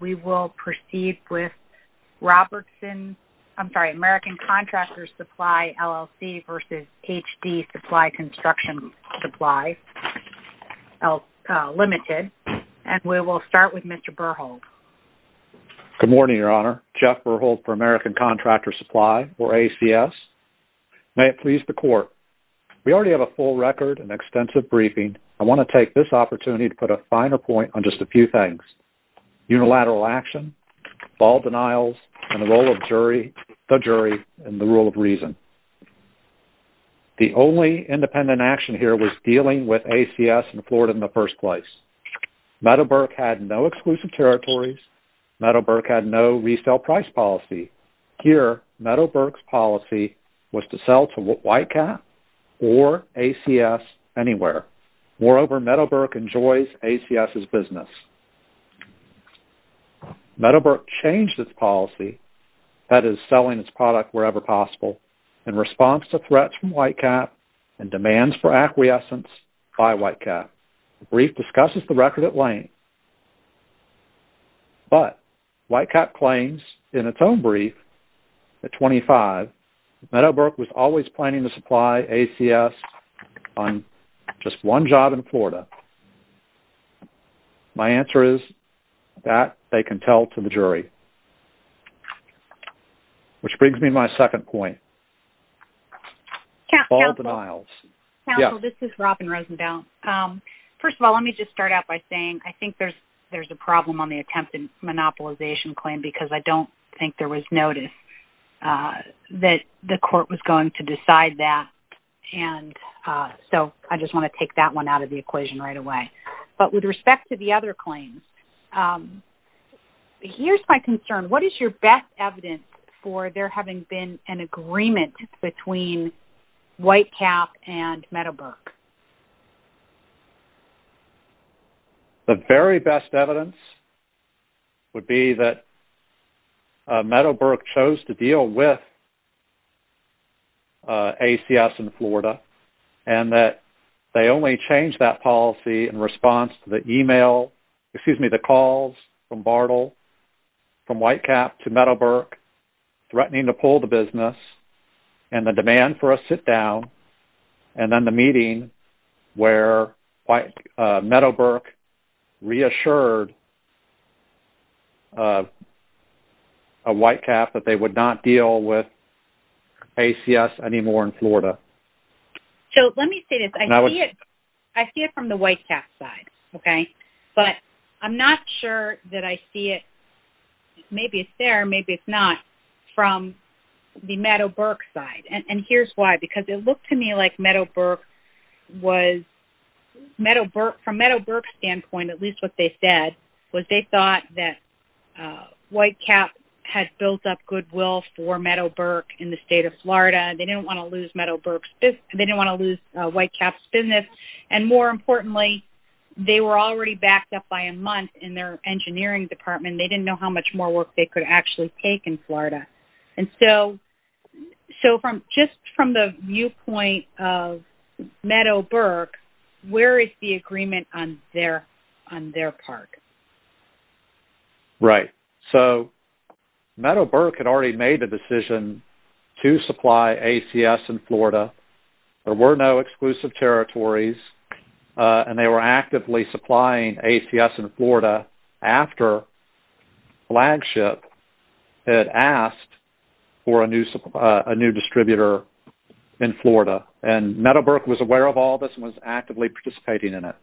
We will proceed with American Contractors Supply LLC v. HD Supply Construction Supply Ltd. We will start with Mr. Berhold. Good morning, Your Honor. Jeff Berhold for American Contractors Supply, or ACS. May it please the Court, we already have a full record and extensive briefing. I want to take this opportunity to put a finer point on just a few things. Unilateral action, ball denials, and the role of the jury in the rule of reason. The only independent action here was dealing with ACS in Florida in the first place. Meadowbrook had no exclusive territories. Meadowbrook had no resale price policy. Here, Meadowbrook's policy was to sell to Whitecap or ACS anywhere. Moreover, Meadowbrook enjoys ACS's business. Meadowbrook changed its policy, that is, selling its product wherever possible, in response to threats from Whitecap and demands for acquiescence by Whitecap. The brief discusses the record at length. But, Whitecap claims in its own brief, at 25, Meadowbrook was always planning to supply ACS on just one job in Florida. My answer is, that they can tell to the jury. Which brings me to my second point. Ball denials. Counsel, this is Robin Rosendale. First of all, let me just start out by saying, I think there's a problem on the attempted monopolization claim, because I don't think there was notice that the court was going to decide that. So, I just want to take that one out of the equation right away. But, with respect to the other claims, here's my concern. What is your best evidence for there having been an agreement between Whitecap and Meadowbrook? The very best evidence would be that Meadowbrook chose to deal with ACS in Florida, and that they only changed that policy in response to the calls from Bartle, from Whitecap to Meadowbrook, threatening to pull the business, and the demand for a sit-down, and then the meeting where Meadowbrook reassured Whitecap that they would not deal with ACS anymore in Florida. So, let me say this. I see it from the Whitecap side, okay? But, I'm not sure that I see it, maybe it's there, maybe it's not, from the Meadowbrook side. And, here's why. Because, it looked to me like Meadowbrook was, from Meadowbrook's standpoint, at least what they said, was they thought that Whitecap had built up goodwill for Meadowbrook in the state of Florida, and they didn't want to lose Whitecap's business. And, more importantly, they were already backed up by a month in their engineering department. They didn't know how much more work they could actually take in Florida. And so, just from the viewpoint of Meadowbrook, where is the agreement on their part? Right. So, Meadowbrook had already made the decision to supply ACS in Florida. There were no exclusive territories. And, they were actively supplying ACS in Florida after Flagship had asked for a new distributor in Florida. And, Meadowbrook was aware of all this and was actively participating in it.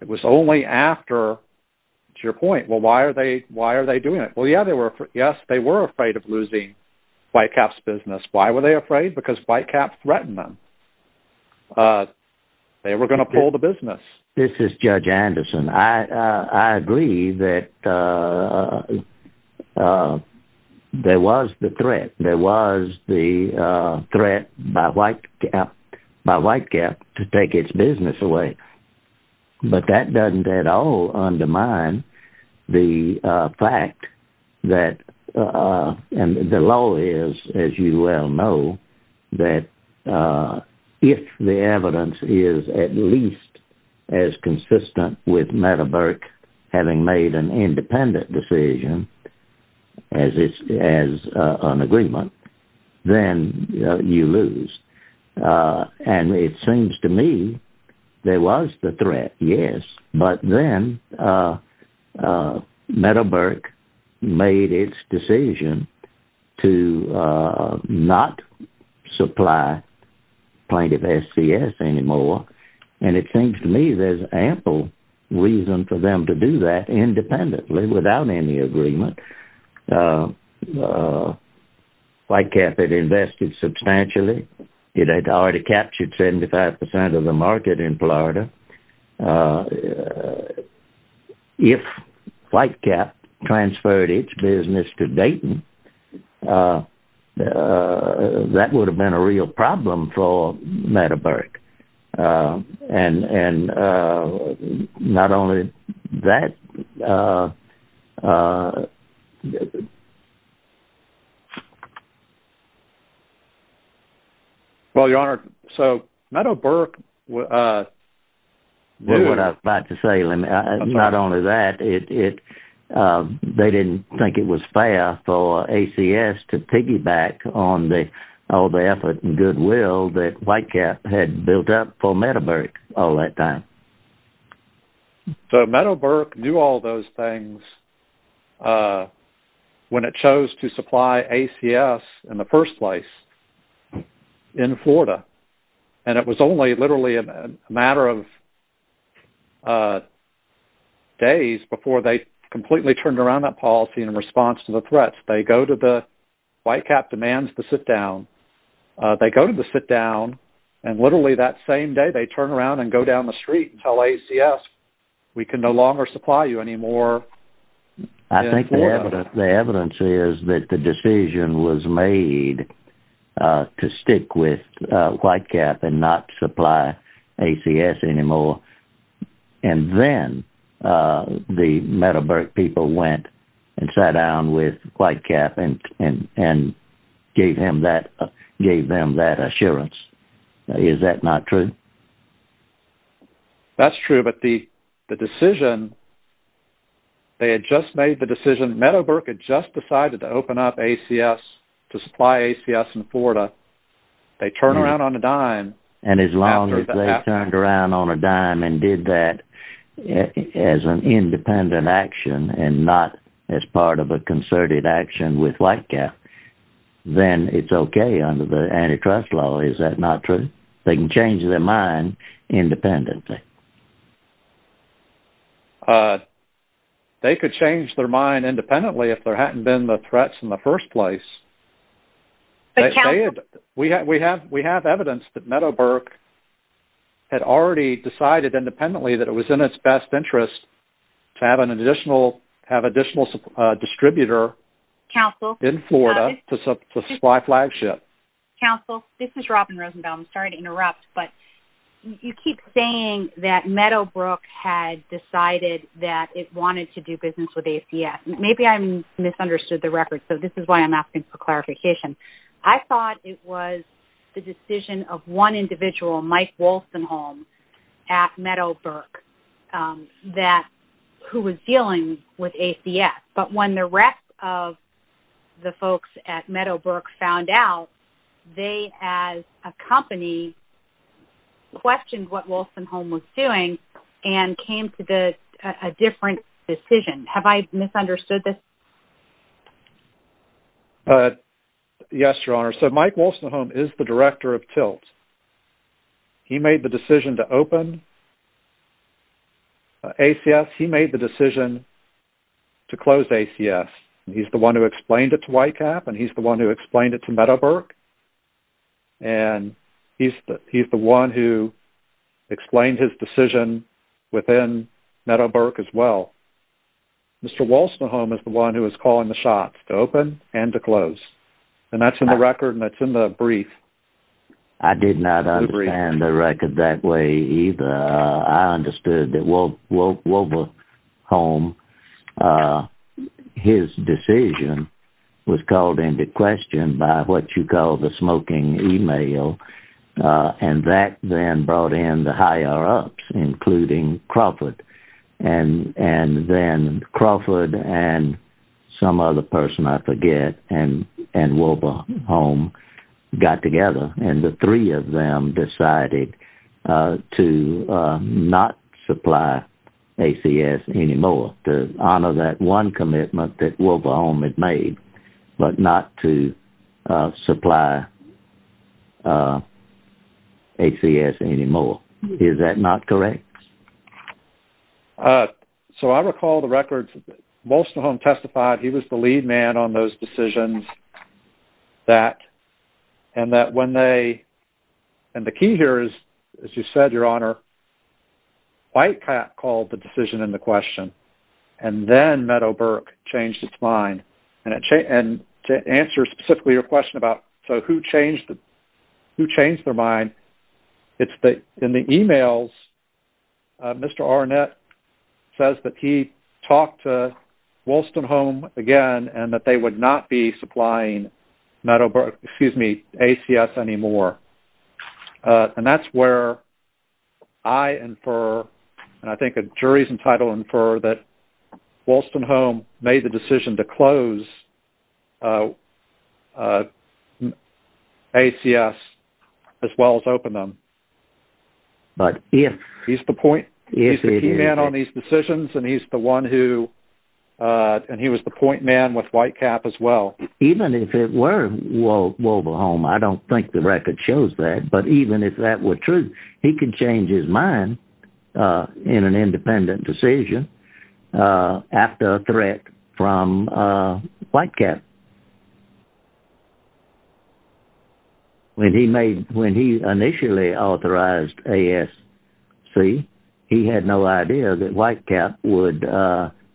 It was only after, to your point, well, why are they doing it? Well, yes, they were afraid of losing Whitecap's business. Why were they afraid? Because Whitecap threatened them. They were going to pull the business. This is Judge Anderson. I agree that there was the threat. There was the threat by Whitecap to take its business away. But, that doesn't at all undermine the fact that, and the law is, as you well know, that if the evidence is at least as consistent with Meadowbrook having made an independent decision, as an agreement, then you lose. And, it seems to me, there was the threat, yes. But then, Meadowbrook made its decision to not supply plaintiff SCS anymore. And, it seems to me, there's ample reason for them to do that independently, without any agreement. Whitecap had invested substantially. It had already captured 75% of the market in Florida. If Whitecap transferred its business to Dayton, that would have been a real problem for Meadowbrook. And, not only that... Well, Your Honor, so Meadowbrook... That's what I was about to say. Not only that, they didn't think it was fair for ACS to piggyback on all the effort and goodwill that Whitecap had built up for Meadowbrook all that time. So, Meadowbrook knew all those things when it chose to supply ACS in the first place, in Florida. And, it was only literally a matter of days before they completely turned around that policy in response to the threats. They go to the... Whitecap demands the sit-down. They go to the sit-down, and literally that same day, they turn around and go down the street and tell ACS, we can no longer supply you anymore in Florida. I think the evidence is that the decision was made to stick with Whitecap and not supply ACS anymore. And then, the Meadowbrook people went and sat down with Whitecap and gave them that assurance. Is that not true? That's true, but the decision... They had just made the decision. Meadowbrook had just decided to open up ACS to supply ACS in Florida. They turned around on a dime... And as long as they turned around on a dime and did that as an independent action and not as part of a concerted action with Whitecap, then it's okay under the antitrust law. Is that not true? They can change their mind independently. They could change their mind independently if there hadn't been the threats in the first place. We have evidence that Meadowbrook had already decided independently that it was in its best interest to have an additional distributor in Florida to supply flagship. Counsel, this is Robin Rosenbaum. Sorry to interrupt, but you keep saying that Meadowbrook had decided that it wanted to do business with ACS. Maybe I misunderstood the record, so this is why I'm asking for clarification. I thought it was the decision of one individual, Mike Wolfenholme at Meadowbrook, who was dealing with ACS. But when the rest of the folks at Meadowbrook found out, they, as a company, questioned what Wolfenholme was doing and came to a different decision. Have I misunderstood this? Yes, Your Honor. So Mike Wolfenholme is the director of Tilt. He made the decision to open ACS. He made the decision to close ACS. He's the one who explained it to YCAP and he's the one who explained it to Meadowbrook. And he's the one who explained his decision within Meadowbrook as well. Mr. Wolfenholme is the one who is calling the shots to open and to close. And that's in the record and that's in the brief. I did not understand the record that way either. I understood that Wolfenholme, his decision, was called into question by what you call the smoking email. And that then brought in the higher-ups, including Crawford. And then Crawford and some other person, I forget, and Wolfenholme got together. And the three of them decided to not supply ACS anymore, to honor that one commitment that Wolfenholme had made, but not to supply ACS anymore. Is that not correct? So I recall the records. Wolfenholme testified. He was the lead man on those decisions. And the key here is, as you said, Your Honor, YCAP called the decision into question. And then Meadowbrook changed its mind. And to answer specifically your question about who changed their mind, in the emails, Mr. Arnett says that he talked to Wolfenholme again and that they would not be supplying ACS anymore. And that's where I infer, and I think a jury's entitled to infer, that Wolfenholme made the decision to close ACS as well as open them. He's the key man on these decisions, and he was the point man with YCAP as well. Even if it were Wolfenholme, I don't think the record shows that, but even if that were true, he could change his mind in an independent decision after a threat from YCAP. When he initially authorized ASC, he had no idea that YCAP would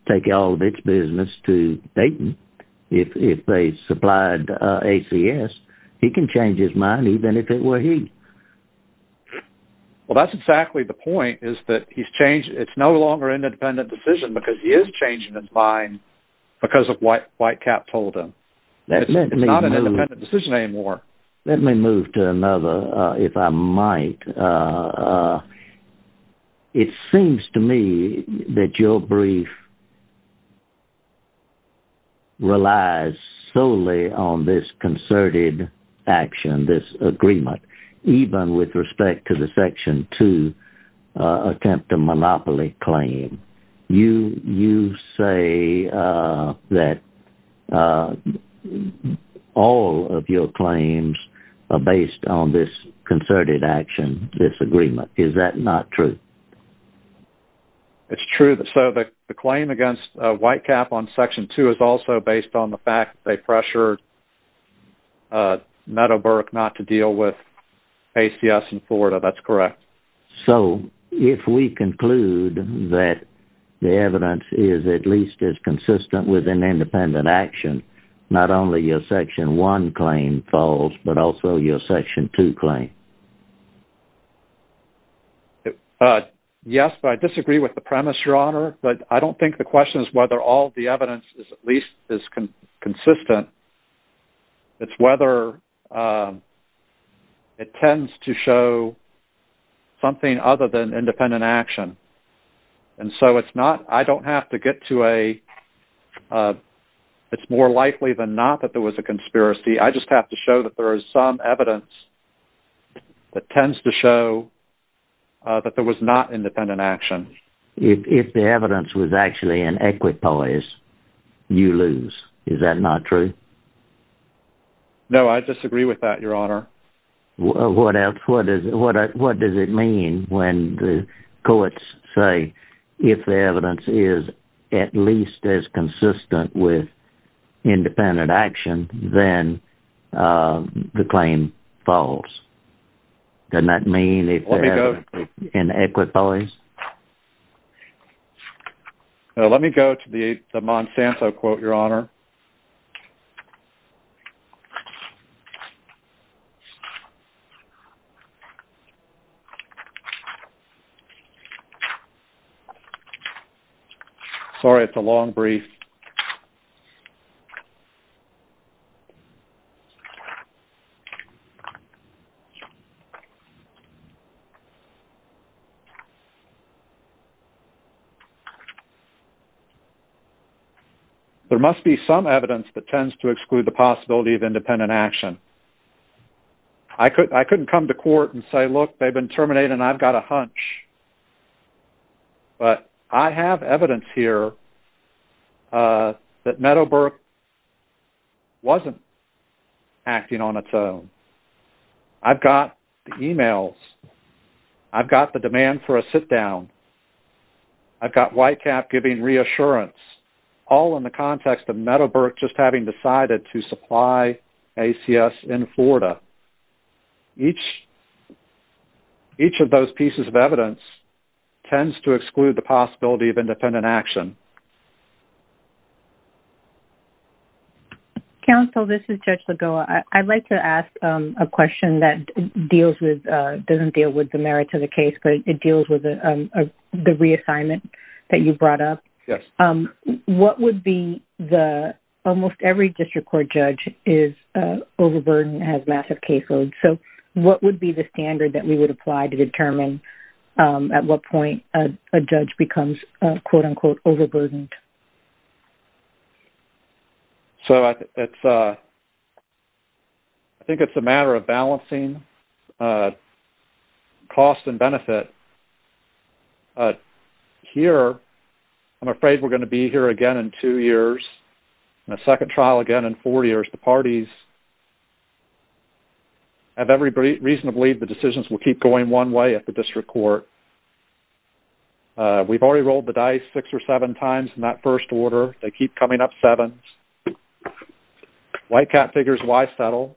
take all of its business to Dayton if they supplied ACS. He can change his mind even if it were he. Well, that's exactly the point, is that it's no longer an independent decision because he is changing his mind because of what YCAP told him. It's not an independent decision anymore. Let me move to another, if I might. It seems to me that your brief relies solely on this concerted action, this agreement, even with respect to the Section 2 attempt to monopoly claim. You say that all of your claims are based on this concerted action, this agreement. Is that not true? It's true. The claim against YCAP on Section 2 is also based on the fact that they pressured Meadowbrook not to deal with ACS in Florida. That's correct. So, if we conclude that the evidence is at least as consistent with an independent action, not only your Section 1 claim falls, but also your Section 2 claim. Yes, but I disagree with the premise, Your Honor. I don't think the question is whether all the evidence is at least as consistent. It's whether it tends to show something other than independent action. I don't have to get to a, it's more likely than not that there was a conspiracy. I just have to show that there is some evidence that tends to show that there was not independent action. If the evidence was actually in equipoise, you lose. Is that not true? No, I disagree with that, Your Honor. What does it mean when the courts say if the evidence is at least as consistent with independent action, then the claim falls? Doesn't that mean if the evidence is in equipoise? Let me go to the Monsanto quote, Your Honor. Sorry, it's a long brief. There must be some evidence that tends to exclude the possibility of independent action. I couldn't come to court and say, look, they've been terminated and I've got a hunch, but I have evidence here that Meadowbrook wasn't acting on its own. I've got the emails. I've got the demand for a sit-down. I've got Whitecap giving reassurance, all in the context of Meadowbrook just having decided to supply ACS in Florida. Each of those pieces of evidence tends to exclude the possibility of independent action. Counsel, this is Judge Lagoa. I'd like to ask a question that doesn't deal with the merits of the case, but it deals with the reassignment that you brought up. Yes. Almost every district court judge is overburdened and has massive caseloads. What would be the standard that we would apply to determine at what point a judge becomes quote, unquote, overburdened? I think it's a matter of balancing cost and benefit. Here, I'm afraid we're going to be here again in two years and a second trial again in four years. The parties have every reason to believe the decisions will keep going one way at the district court. We've already rolled the dice six or seven times in that first order. They keep coming up sevens. Whitecap figures, why settle?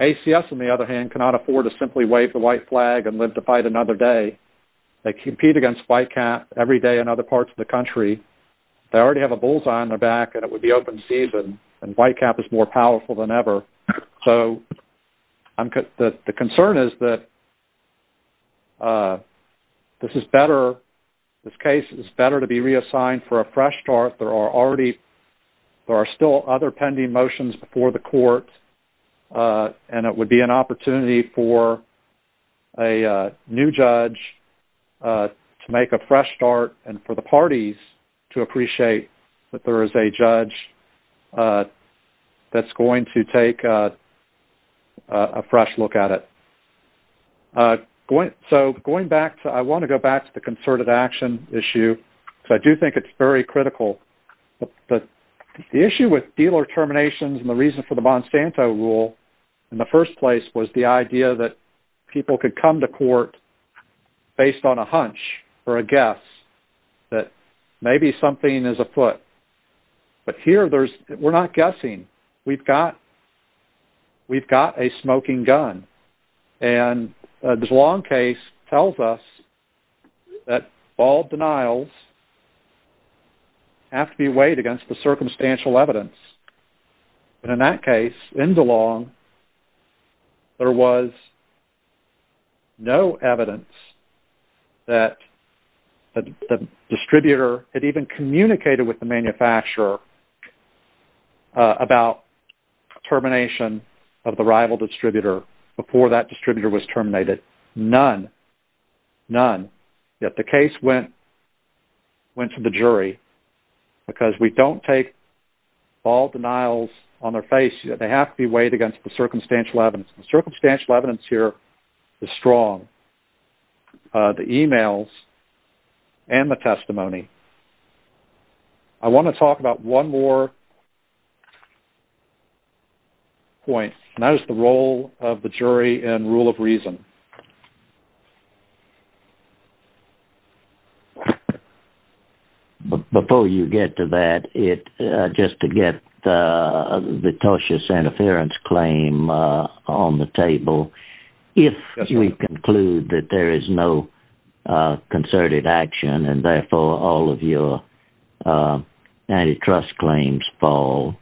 ACS, on the other hand, cannot afford to simply wave the white flag and live to fight another day. They compete against Whitecap every day in other parts of the country. They already have a bullseye on their back, and it would be open season, and Whitecap is more powerful than ever. The concern is that this case is better to be reassigned for a fresh start. There are still other pending motions before the court, and it would be an opportunity for a new judge to make a fresh start and for the parties to appreciate that there is a judge that's going to take a fresh look at it. I want to go back to the concerted action issue, because I do think it's very critical. The issue with dealer terminations and the reason for the Monsanto rule in the first place was the idea that people could come to court based on a hunch or a guess that maybe something is afoot. But here, we're not guessing. We've got a smoking gun, and the DeLong case tells us that all denials have to be weighed against the circumstantial evidence. In that case, in DeLong, there was no evidence that the distributor had even communicated with the manufacturer about termination of the rival distributor before that distributor was terminated. None. None. Yet the case went to the jury, because we don't take all denials on their face. They have to be weighed against the circumstantial evidence. The circumstantial evidence here is strong. The emails and the testimony. I want to talk about one more point, and that is the role of the jury in rule of reason. Before you get to that, just to get the tortious interference claim on the table, if we conclude that there is no concerted action and therefore all of your antitrust claims fall,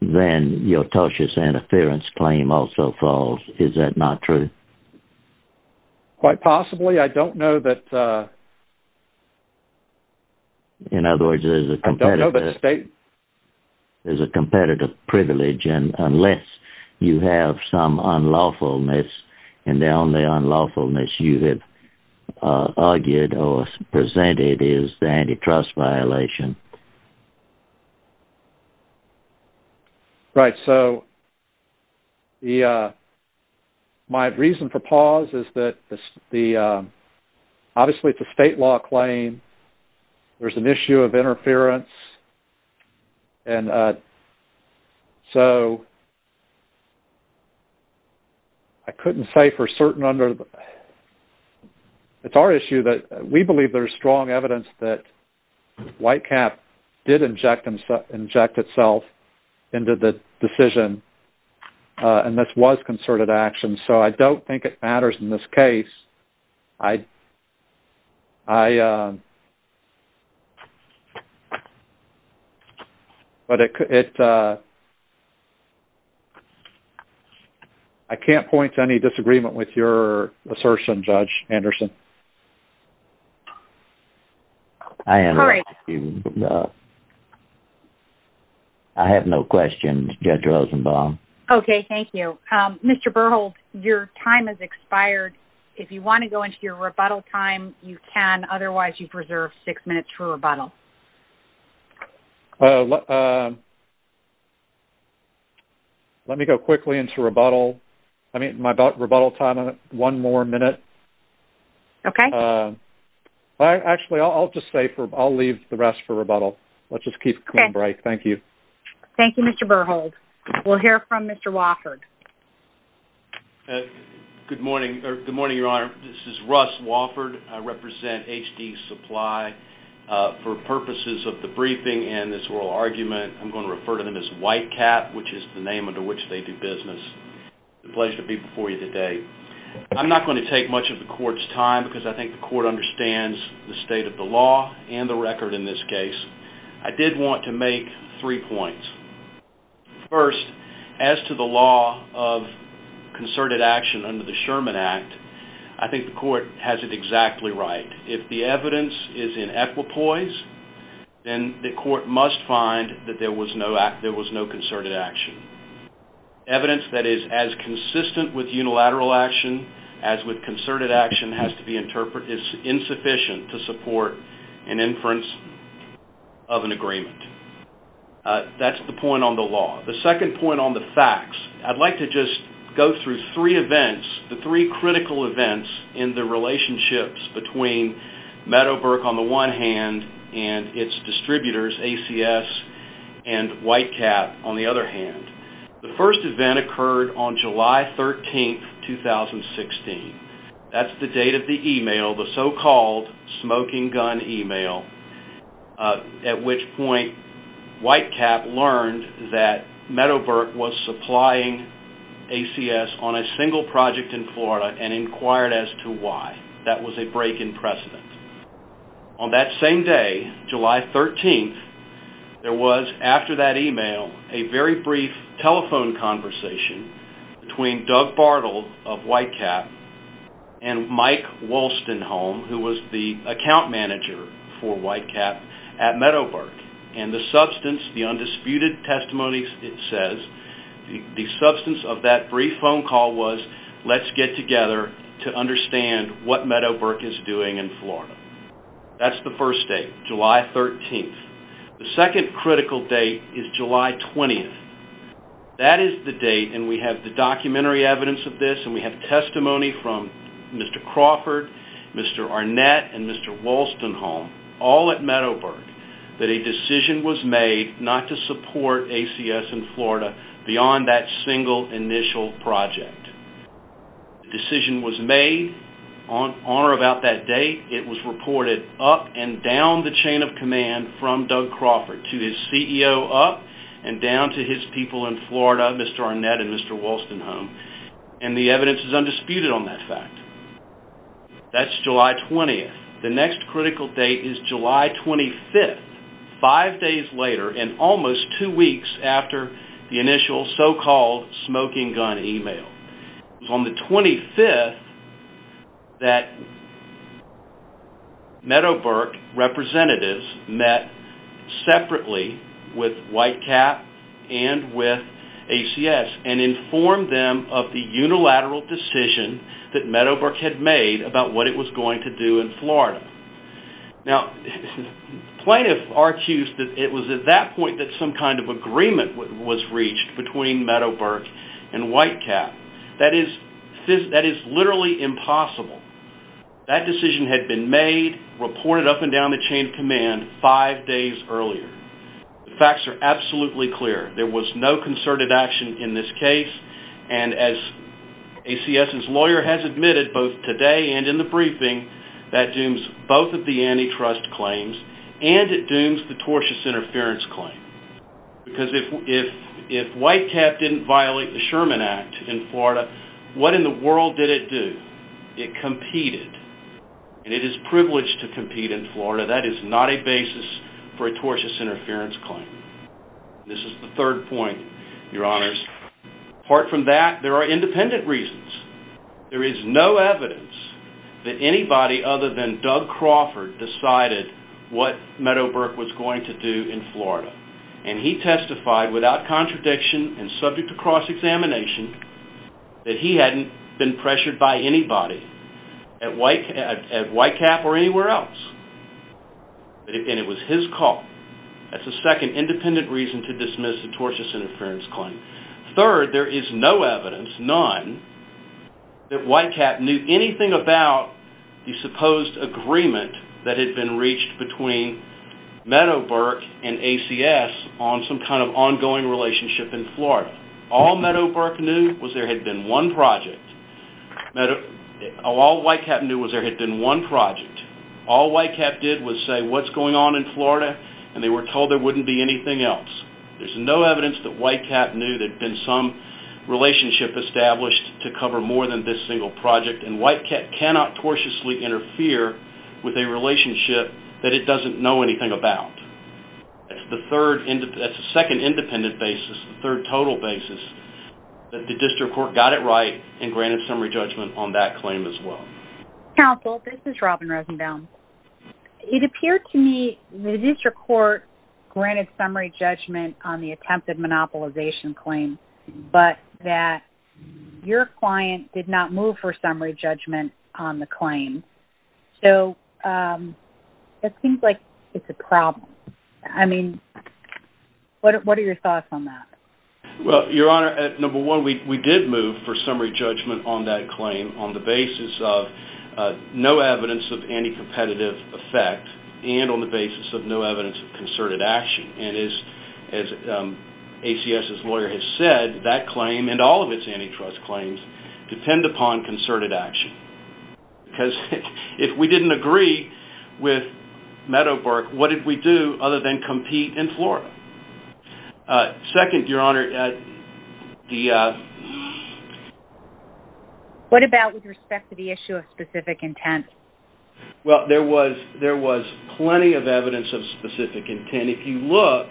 then your tortious interference claim also falls. Is that not true? Quite possibly. I don't know that... In other words, there's a competitive privilege, and unless you have some unlawfulness, and the only unlawfulness you have argued or presented is the antitrust violation. Right. So, my reason for pause is that, obviously, it's a state law claim. There's an issue of interference. And so, I couldn't say for certain under... It's our issue that we believe there's strong evidence that Whitecap did inject itself into the decision, and this was concerted action, so I don't think it matters in this case. I... I can't point to any disagreement with your assertion, Judge Anderson. I have no questions, Judge Rosenbaum. Okay. Thank you. Mr. Berhold, your time has expired. If you want to go into your rebuttal time, you can. Otherwise, you've reserved six minutes for rebuttal. Let me go quickly into rebuttal. I mean, my rebuttal time is one more minute. Okay. Actually, I'll just stay for... I'll leave the rest for rebuttal. Let's just keep it clean and bright. Thank you. Thank you, Mr. Berhold. We'll hear from Mr. Wofford. Good morning, Your Honor. This is Russ Wofford. I represent H.D. Supply. For purposes of the briefing and this oral argument, I'm going to refer to them as Whitecap, which is the name under which they do business. It's a pleasure to be before you today. I'm not going to take much of the court's time because I think the court understands the state of the law and the record in this case. I did want to make three points. First, as to the law of concerted action under the Sherman Act, I think the court has it exactly right. If the evidence is in equipoise, then the court must find that there was no concerted action. Evidence that is as consistent with unilateral action as with concerted action is insufficient to support an inference of an agreement. That's the point on the law. The second point on the facts, I'd like to just go through three events, the three critical events in the relationships between Meadowbrook, on the one hand, and its distributors, ACS, and Whitecap, on the other hand. The first event occurred on July 13, 2016. That's the date of the email, the so-called smoking gun email, at which point Whitecap learned that Meadowbrook was supplying ACS on a single project in Florida and inquired as to why. That was a break in precedent. On that same day, July 13, there was, after that email, a very brief telephone conversation between Doug Bartle of Whitecap and Mike Wolstenholme, who was the account manager for Whitecap at Meadowbrook. The substance, the undisputed testimony it says, the substance of that brief phone call was, let's get together to understand what Meadowbrook is doing in Florida. That's the first date, July 13. The second critical date is July 20. That is the date, and we have the documentary evidence of this, and we have testimony from Mr. Crawford, Mr. Arnett, and Mr. Wolstenholme, all at Meadowbrook, that a decision was made not to support ACS in Florida beyond that single initial project. The decision was made on or about that date. It was reported up and down the chain of command from Doug Crawford to his CEO up and down to his people in Florida, Mr. Arnett and Mr. Wolstenholme, and the evidence is undisputed on that fact. That's July 20. The next critical date is July 25, five days later and almost two weeks after the initial so-called smoking gun email. It was on the 25th that Meadowbrook representatives met separately with Whitecap and with ACS and informed them of the unilateral decision that Meadowbrook had made about what it was going to do in Florida. Now, plaintiff argues that it was at that point that some kind of agreement was reached between Meadowbrook and Whitecap. That is literally impossible. That decision had been made, reported up and down the chain of command five days earlier. The facts are absolutely clear. There was no concerted action in this case, and as ACS's lawyer has admitted both today and in the briefing, that dooms both of the antitrust claims and it dooms the tortious interference claim. Because if Whitecap didn't violate the Sherman Act in Florida, what in the world did it do? It competed, and it is privileged to compete in Florida. That is not a basis for a tortious interference claim. This is the third point, your honors. Apart from that, there are independent reasons. There is no evidence that anybody other than Doug Crawford decided what Meadowbrook was going to do in Florida. And he testified without contradiction and subject to cross-examination that he hadn't been pressured by anybody at Whitecap or anywhere else. And it was his call. That's the second independent reason to dismiss the tortious interference claim. Third, there is no evidence, none, that Whitecap knew anything about the supposed agreement that had been reached between Meadowbrook and ACS on some kind of ongoing relationship in Florida. All Meadowbrook knew was there had been one project. All Whitecap knew was there had been one project. All Whitecap did was say, what's going on in Florida? And they were told there wouldn't be anything else. There's no evidence that Whitecap knew there had been some relationship established to cover more than this single project. And Whitecap cannot tortiously interfere with a relationship that it doesn't know anything about. That's the second independent basis, the third total basis, that the district court got it right and granted summary judgment on that claim as well. Counsel, this is Robin Rosenbaum. It appeared to me the district court granted summary judgment on the attempted monopolization claim, but that your client did not move for summary judgment on the claim. So, it seems like it's a problem. I mean, what are your thoughts on that? Well, your honor, number one, we did move for summary judgment on that claim on the basis of no evidence of anti-competitive effect and on the basis of no evidence of concerted action. And as ACS's lawyer has said, that claim and all of its antitrust claims depend upon concerted action. Because if we didn't agree with Meadowbrook, what did we do other than compete in Florida? Second, your honor, the... What about with respect to the issue of specific intent? Well, there was plenty of evidence of specific intent. And if you look,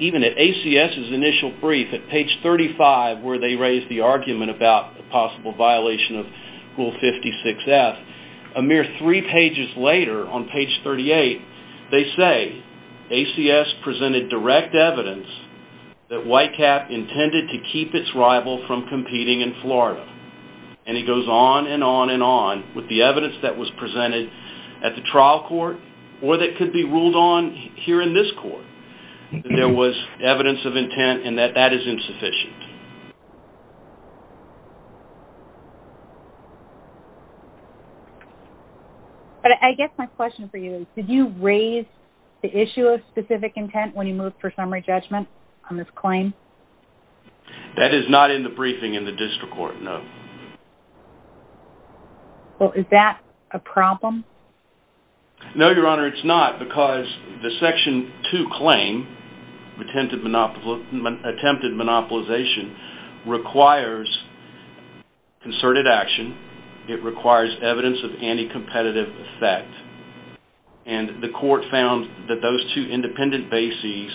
even at ACS's initial brief, at page 35, where they raise the argument about a possible violation of Rule 56F, a mere three pages later, on page 38, they say ACS presented direct evidence that Whitecap intended to keep its rival from competing in Florida. And it goes on and on and on with the evidence that was presented at the trial court or that could be ruled on here in this court. There was evidence of intent and that that is insufficient. But I guess my question for you is, did you raise the issue of specific intent when you moved for summary judgment on this claim? That is not in the briefing in the district court, no. Well, is that a problem? No, your honor, it's not because the Section 2 claim, attempted monopolization, requires concerted action. It requires evidence of anti-competitive effect. And the court found that those two independent bases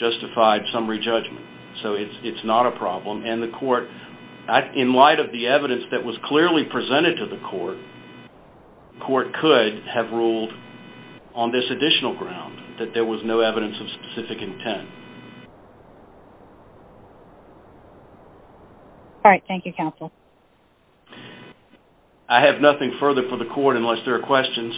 justified summary judgment. So it's not a problem. And the court, in light of the evidence that was clearly presented to the court, the court could have ruled on this additional ground that there was no evidence of specific intent. All right. Thank you, counsel. I have nothing further for the court unless there are questions.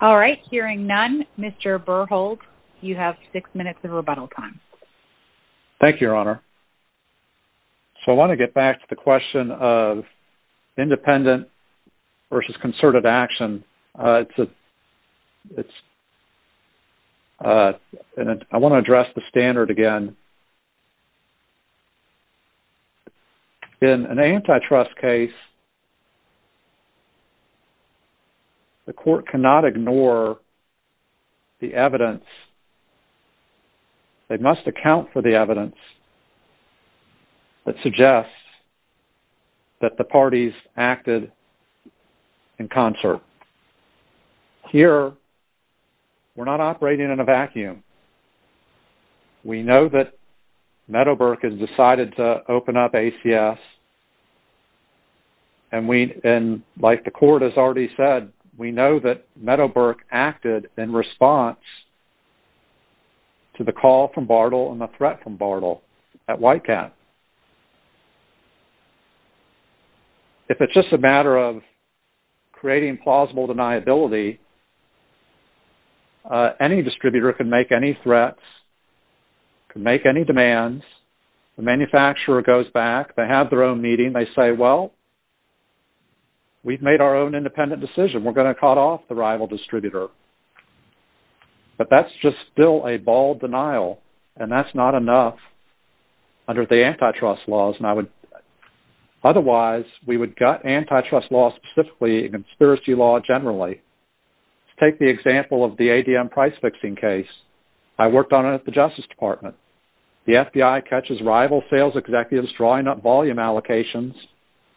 All right. Hearing none, Mr. Berhold? You have six minutes of rebuttal time. Thank you, your honor. So I want to get back to the question of independent versus concerted action. I want to address the standard again. In an antitrust case, the court cannot ignore the evidence. They must account for the evidence that suggests that the parties acted in concert. Here, we're not operating in a vacuum. We know that Meadowbrook has decided to open up ACS. And like the court has already said, we know that Meadowbrook acted in response to the call from Bartle and the threat from Bartle at Whitecat. If it's just a matter of creating plausible deniability, any distributor can make any threats, can make any demands. The manufacturer goes back. They have their own meeting. They say, well, we've made our own independent decision. We're going to cut off the rival distributor. But that's just still a bald denial, and that's not enough under the antitrust laws. Otherwise, we would gut antitrust laws specifically and conspiracy law generally. Take the example of the ADM price-fixing case. I worked on it at the Justice Department. The FBI catches rival sales executives drawing up volume allocations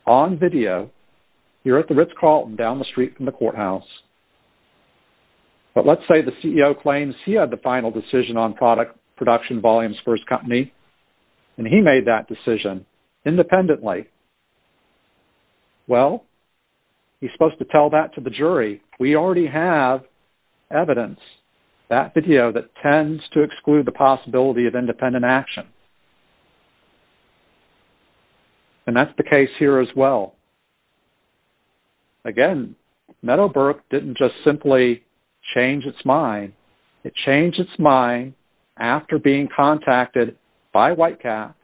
on video here at the Ritz Carlton down the street from the courthouse. But let's say the CEO claims he had the final decision on product production volumes for his company, and he made that decision independently. Well, he's supposed to tell that to the jury. We already have evidence, that video that tends to exclude the possibility of independent action. And that's the case here as well. Again, Meadowbrook didn't just simply change its mind. It changed its mind after being contacted by White Cap.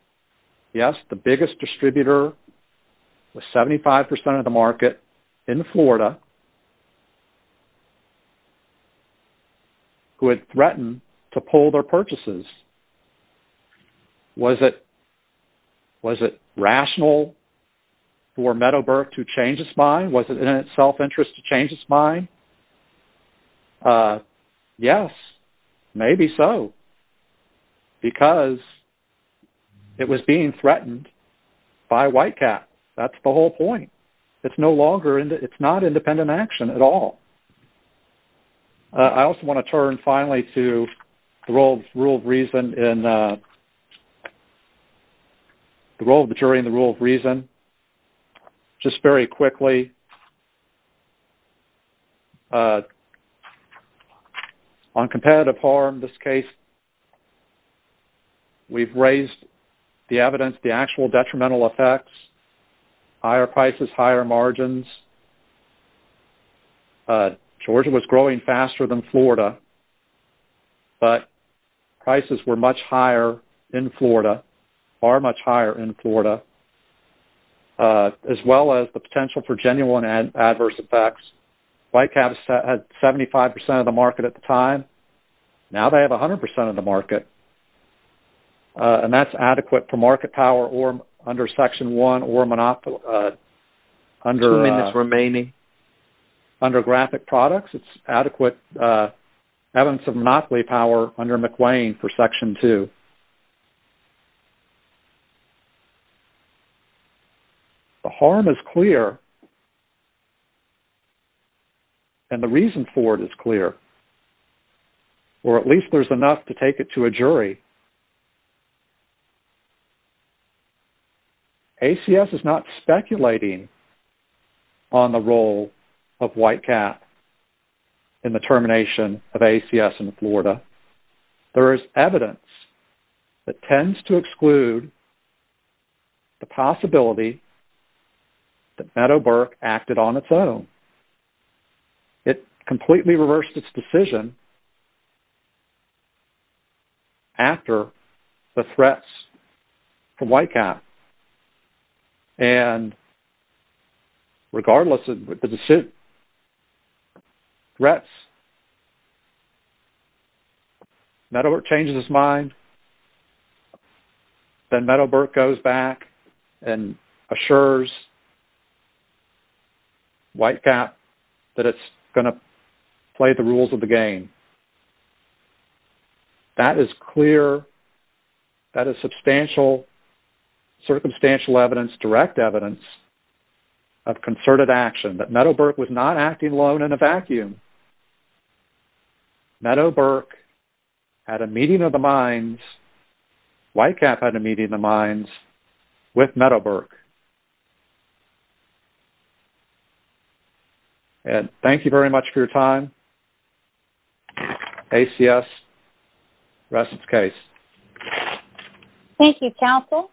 Yes, the biggest distributor with 75% of the market in Florida, who had threatened to pull their purchases. Was it rational for Meadowbrook to change its mind? Was it in its self-interest to change its mind? Yes, maybe so. Because it was being threatened by White Cap. That's the whole point. It's not independent action at all. I also want to turn, finally, to the role of the jury in the rule of reason. Just very quickly, on competitive harm, in this case, we've raised the evidence, the actual detrimental effects. Higher prices, higher margins. Georgia was growing faster than Florida. But prices were much higher in Florida, far much higher in Florida. As well as the potential for genuine adverse effects. White Cap had 75% of the market at the time. Now they have 100% of the market. And that's adequate for market power under Section 1. Two minutes remaining. Under graphic products, it's adequate evidence of monopoly power under McWane for Section 2. The harm is clear. And the reason for it is clear. Or at least there's enough to take it to a jury. ACS is not speculating on the role of White Cap in the termination of ACS in Florida. There is evidence that tends to exclude the possibility that Meadowbrook acted on its own. It completely reversed its decision after the threats from White Cap. And regardless of the threats, Meadowbrook changes its mind. Then Meadowbrook goes back and assures White Cap that it's going to play the rules of the game. That is clear, that is substantial, circumstantial evidence, direct evidence of concerted action. That Meadowbrook was not acting alone in a vacuum. Meadowbrook had a meeting of the minds. White Cap had a meeting of the minds with Meadowbrook. And thank you very much for your time. ACS, rest its case. Thank you, counsel.